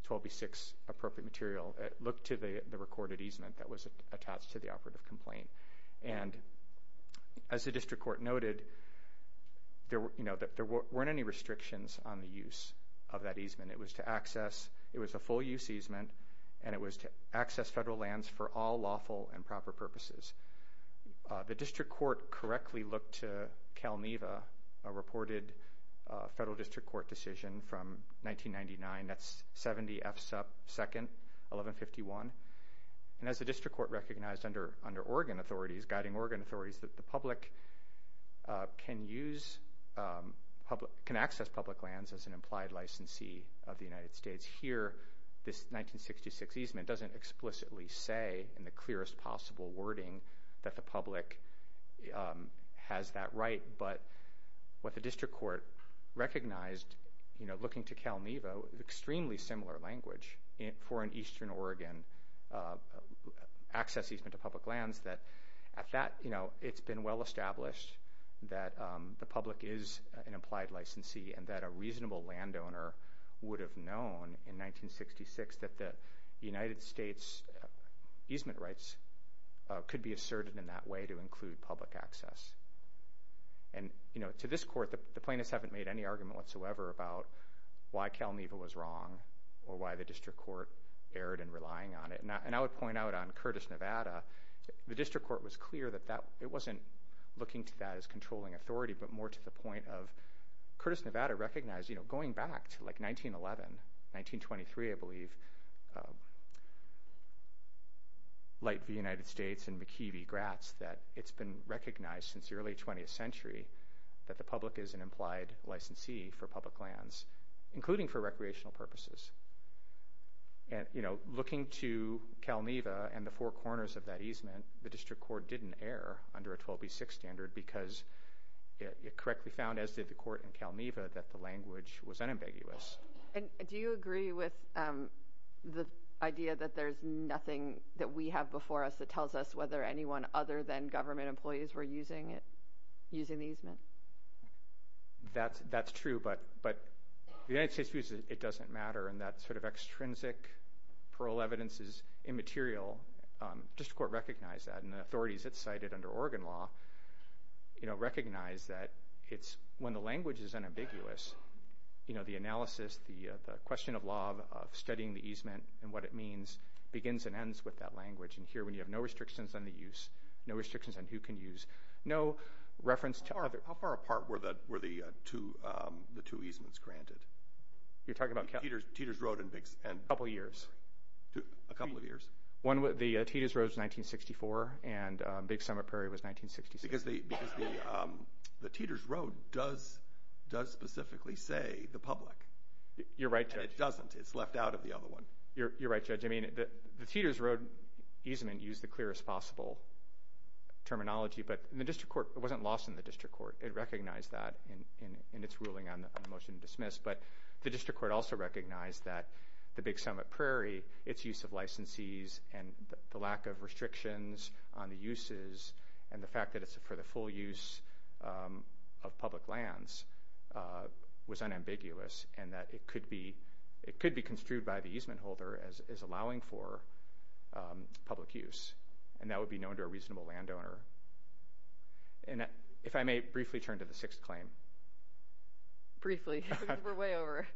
12B6 appropriate material. It looked to the recorded easement that was attached to the operative complaint. And as the district court noted, there weren't any restrictions on the use of that easement. It was to access... It was a full use easement and it was to access federal lands for all lawful and proper purposes. The district court correctly looked to CalNEVA, a reported federal district court decision from 1999. That's 70 F. 2nd, 1151. And as the district court recognized under Oregon authorities, guiding Oregon authorities, that the public can access public lands as an implied licensee of the United States. Here, this 1966 easement doesn't explicitly say in the clearest possible wording that the public has that right. But what the district court recognized, looking to CalNEVA, extremely similar language for an Eastern Oregon access easement to public lands, that at that, it's been well established that the public is an implied licensee and that a reasonable landowner would have known in 1966 that the United States easement rights could be asserted in that way to include public access. And to this court, the plaintiffs haven't made any argument whatsoever about why CalNEVA was wrong or why the district court erred in relying on it. And I would point out on Curtis, Nevada, the district court was clear that it wasn't looking to that as controlling authority, but more to the 1911, 1923, I believe, light of the United States and McKee v. Gratz, that it's been recognized since the early 20th century that the public is an implied licensee for public lands, including for recreational purposes. Looking to CalNEVA and the four corners of that easement, the district court didn't err under a 12b6 standard because it correctly found, as did the plaintiffs. And do you agree with the idea that there's nothing that we have before us that tells us whether anyone other than government employees were using it, using the easement? That's true, but the United States views it doesn't matter and that sort of extrinsic parole evidence is immaterial. District court recognized that and the authorities that cite it under Oregon law recognize that it's... When the language is unambiguous, the analysis, the question of law, of studying the easement and what it means, begins and ends with that language. And here, when you have no restrictions on the use, no restrictions on who can use, no reference to other... How far apart were the two easements granted? You're talking about Cal... Teter's Road and Big... A couple of years. A couple of years. The Teter's Road was 1964 and Big Summit Prairie was 1964. It doesn't specifically say the public. You're right, Judge. And it doesn't. It's left out of the other one. You're right, Judge. I mean, the Teter's Road easement used the clearest possible terminology, but in the district court... It wasn't lost in the district court. It recognized that in its ruling on the motion to dismiss, but the district court also recognized that the Big Summit Prairie, its use of licensees and the lack of restrictions on the uses and the fact that it's for the full use of public lands was unambiguous, and that it could be construed by the easement holder as allowing for public use. And that would be known to a reasonable landowner. And if I may briefly turn to the sixth claim. Briefly. We're way over.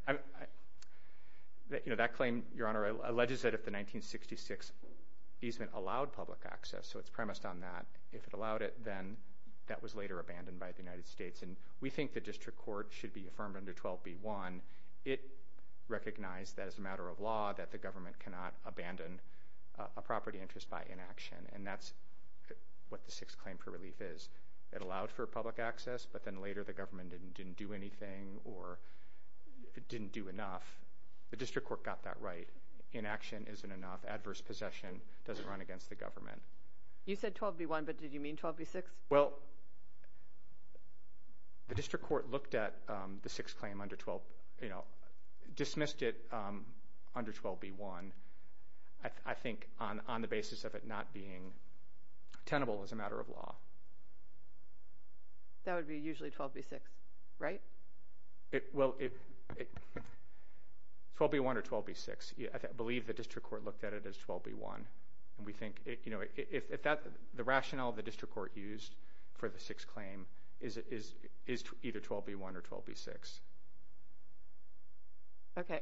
That claim, Your Honor, alleges that if the 1966 easement allowed public access. So it's premised on that. If it allowed it, then that was later abandoned by the United States. And we think the district court should be affirmed under 12B1. It recognized that as a matter of law, that the government cannot abandon a property interest by inaction. And that's what the sixth claim for relief is. It allowed for public access, but then later the government didn't do anything or didn't do enough. The district court got that right. Inaction isn't enough. Adverse possession doesn't run against the government. You said 12B1, but did you mean 12B6? Well, the district court looked at the sixth claim under 12, you know, dismissed it under 12B1. I think on the basis of it not being tenable as a matter of law. That would be usually 12B6, right? Well, 12B1 or 12B6, I believe the district court looked at it as 12B1. And we think, you know, if the rationale the district court used for the sixth claim is either 12B1 or 12B6. Okay.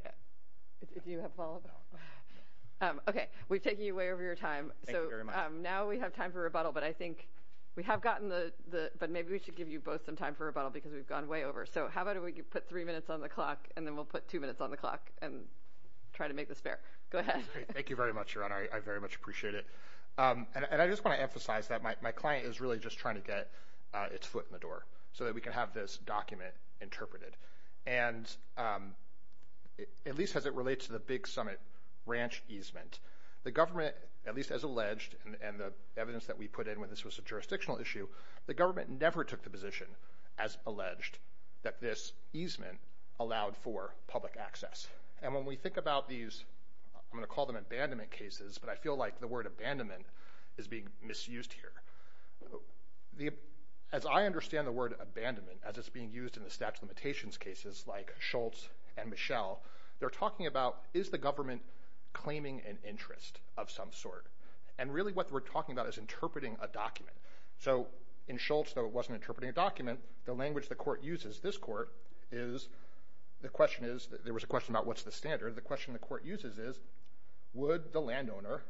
Do you have a follow up? No. Okay. We've taken you way over your time. Thank you very much. So now we have time for rebuttal, but I think we have gotten the... But maybe we should give you both some time for rebuttal because we've gone way over. So how about we put three minutes on the clock and then we'll put two minutes on the clock and try to make this fair. Go ahead. Thank you very much, Your Honor. I very much appreciate it. And I just wanna emphasize that my client is really just trying to get its foot in the door so that we can have this document interpreted. And at least as it relates to the big summit ranch easement, the government, at least as alleged, and the evidence that we put in when this was a jurisdictional issue, the government never took the position as alleged that this easement allowed for public access. And when we think about these, I'm gonna call them abandonment cases, but I feel like the word abandonment is being misused here. As I understand the word abandonment, as it's being used in the statute of limitations cases like Schultz and Mischel, they're talking about, is the government claiming an interest of some sort? And really what we're talking about is interpreting a document. So in Schultz, though it wasn't interpreting a document, the language the court uses, this court, is... The question is... There was a question about what's the standard. The question the court uses is, would the landowner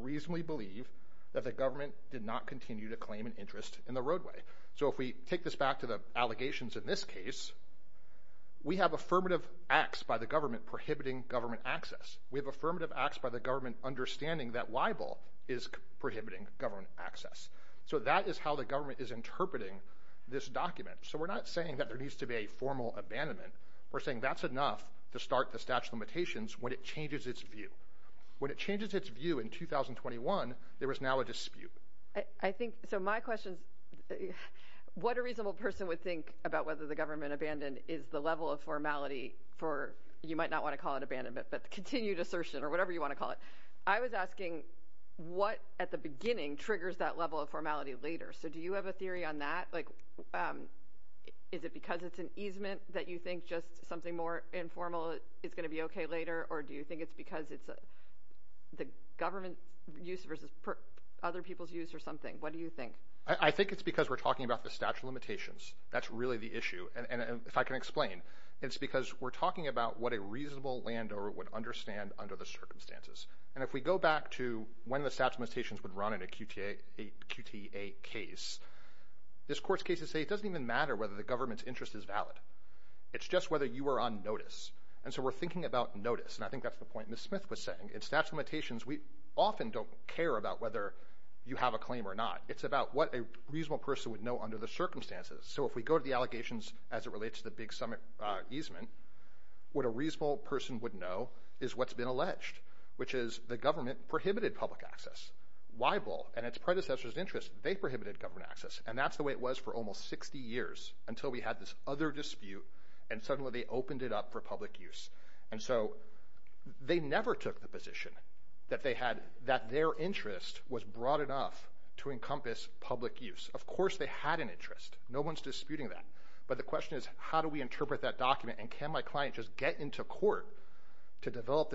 reasonably believe that the government did not continue to claim an interest in the roadway? So if we take this back to the allegations in this case, we have affirmative acts by the government prohibiting government access. We have affirmative acts by the government understanding that libel is prohibiting government access. So that is how the government is interpreting this document. So we're not saying that there needs to be a formal abandonment. We're saying that's enough to start the statute of limitations when it changes its view. When it changes its view in 2021, there is now a dispute. I think... So my question is, what a reasonable person would think about whether the government abandoned is the level of formality for, you might not wanna call it abandonment, but continued assertion or whatever you wanna call it. I was asking what, at the beginning, triggers that level of formality later. So do you have a theory on that? Is it because it's an easement that you think just something more informal is gonna be okay later? Or do you think it's because it's the government's use versus other people's use or something? What do you think? I think it's because we're talking about the statute of limitations. That's really the issue. And if I can explain, it's because we're talking about what a reasonable landowner would understand under the circumstances. And if we go back to when the statute of limitations would run in a QTA case, this court's cases say it doesn't even matter whether the government's interest is valid. It's just whether you are on notice. And so we're thinking about notice. And I think that's the point Ms. Smith was saying. In statute of limitations, we often don't care about whether you have a claim or not. It's about what a reasonable person would know under the circumstances. So if we go to the allegations as it relates to the Big Summit easement, what a reasonable person would know is what's been alleged, which is the government prohibited public access. Weibel and its predecessor's interest, they prohibited government access. And that's the way it was for almost 60 years until we had this other dispute and suddenly they opened it up for public use. And so they never took the position that they had, that their interest was broad enough to encompass public use. Of course, they had an interest. No one's disputing that. But the question is, how do we interpret that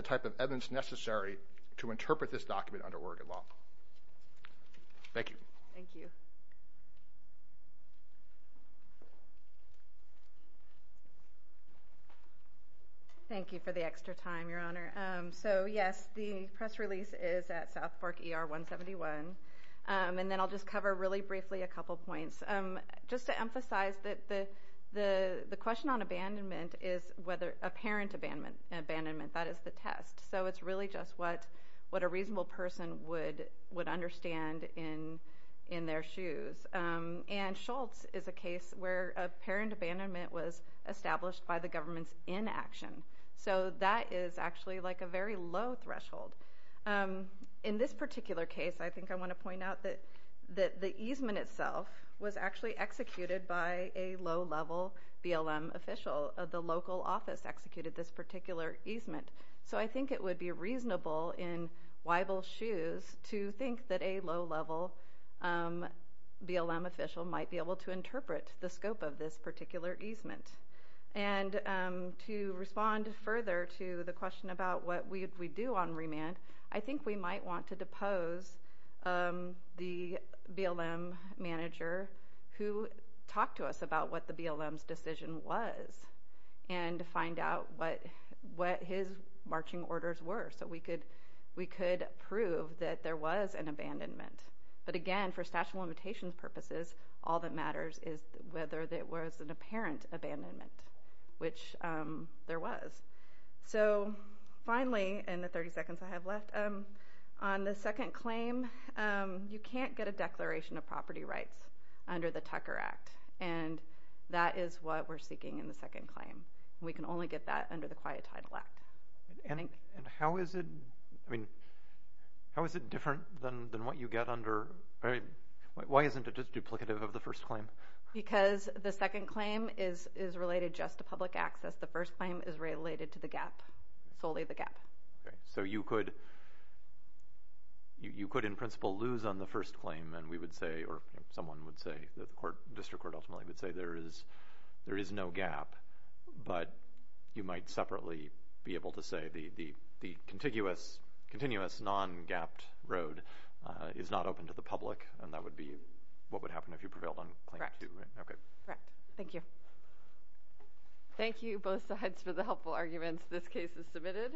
type of evidence necessary to interpret this document under Oregon law? Thank you. Thank you. Thank you for the extra time, Your Honor. So yes, the press release is at South Fork ER 171. And then I'll just cover really briefly a couple of points. Just to emphasize that the question on abandonment is whether... A parent abandonment, that is the test. So it's really just what a reasonable person would understand in their shoes. And Schultz is a case where a parent abandonment was established by the government's inaction. So that is actually a very low threshold. In this particular case, I think I wanna point out that the easement itself was actually executed by a low level BLM official of the local office executed this particular easement. So I think it would be reasonable in liable shoes to think that a low level BLM official might be able to interpret the scope of this particular easement. And to respond further to the question about what we do on remand, I think we might want to depose the BLM manager who talked to us about what the BLM's decision was and to find out what his marching orders were so we could prove that there was an abandonment. But again, for statute of limitations purposes, all that matters is whether there was an apparent abandonment, which there was. So finally, in the 30 seconds I have left, on the second claim, you can't get a declaration of property rights under the Tucker Act, and that is what we're seeking in the second claim. We can only get that under the Quiet Title Act. And how is it... I mean, how is it different than what you get under... Why isn't it just duplicative of the first claim? Because the second claim is related just to public access. The first claim is related to the gap, solely the gap. Okay. So you could, you could, in principle, lose on the first claim, and we would say, or someone would say, the court, district court ultimately would say, there is no gap. But you might separately be able to say, the continuous non-gapped road is not open to the public, and that would be what would happen if you prevailed on claim two, right? Correct. Okay. Correct. Thank you. Thank you, both sides, for the helpful arguments. This case is submitted.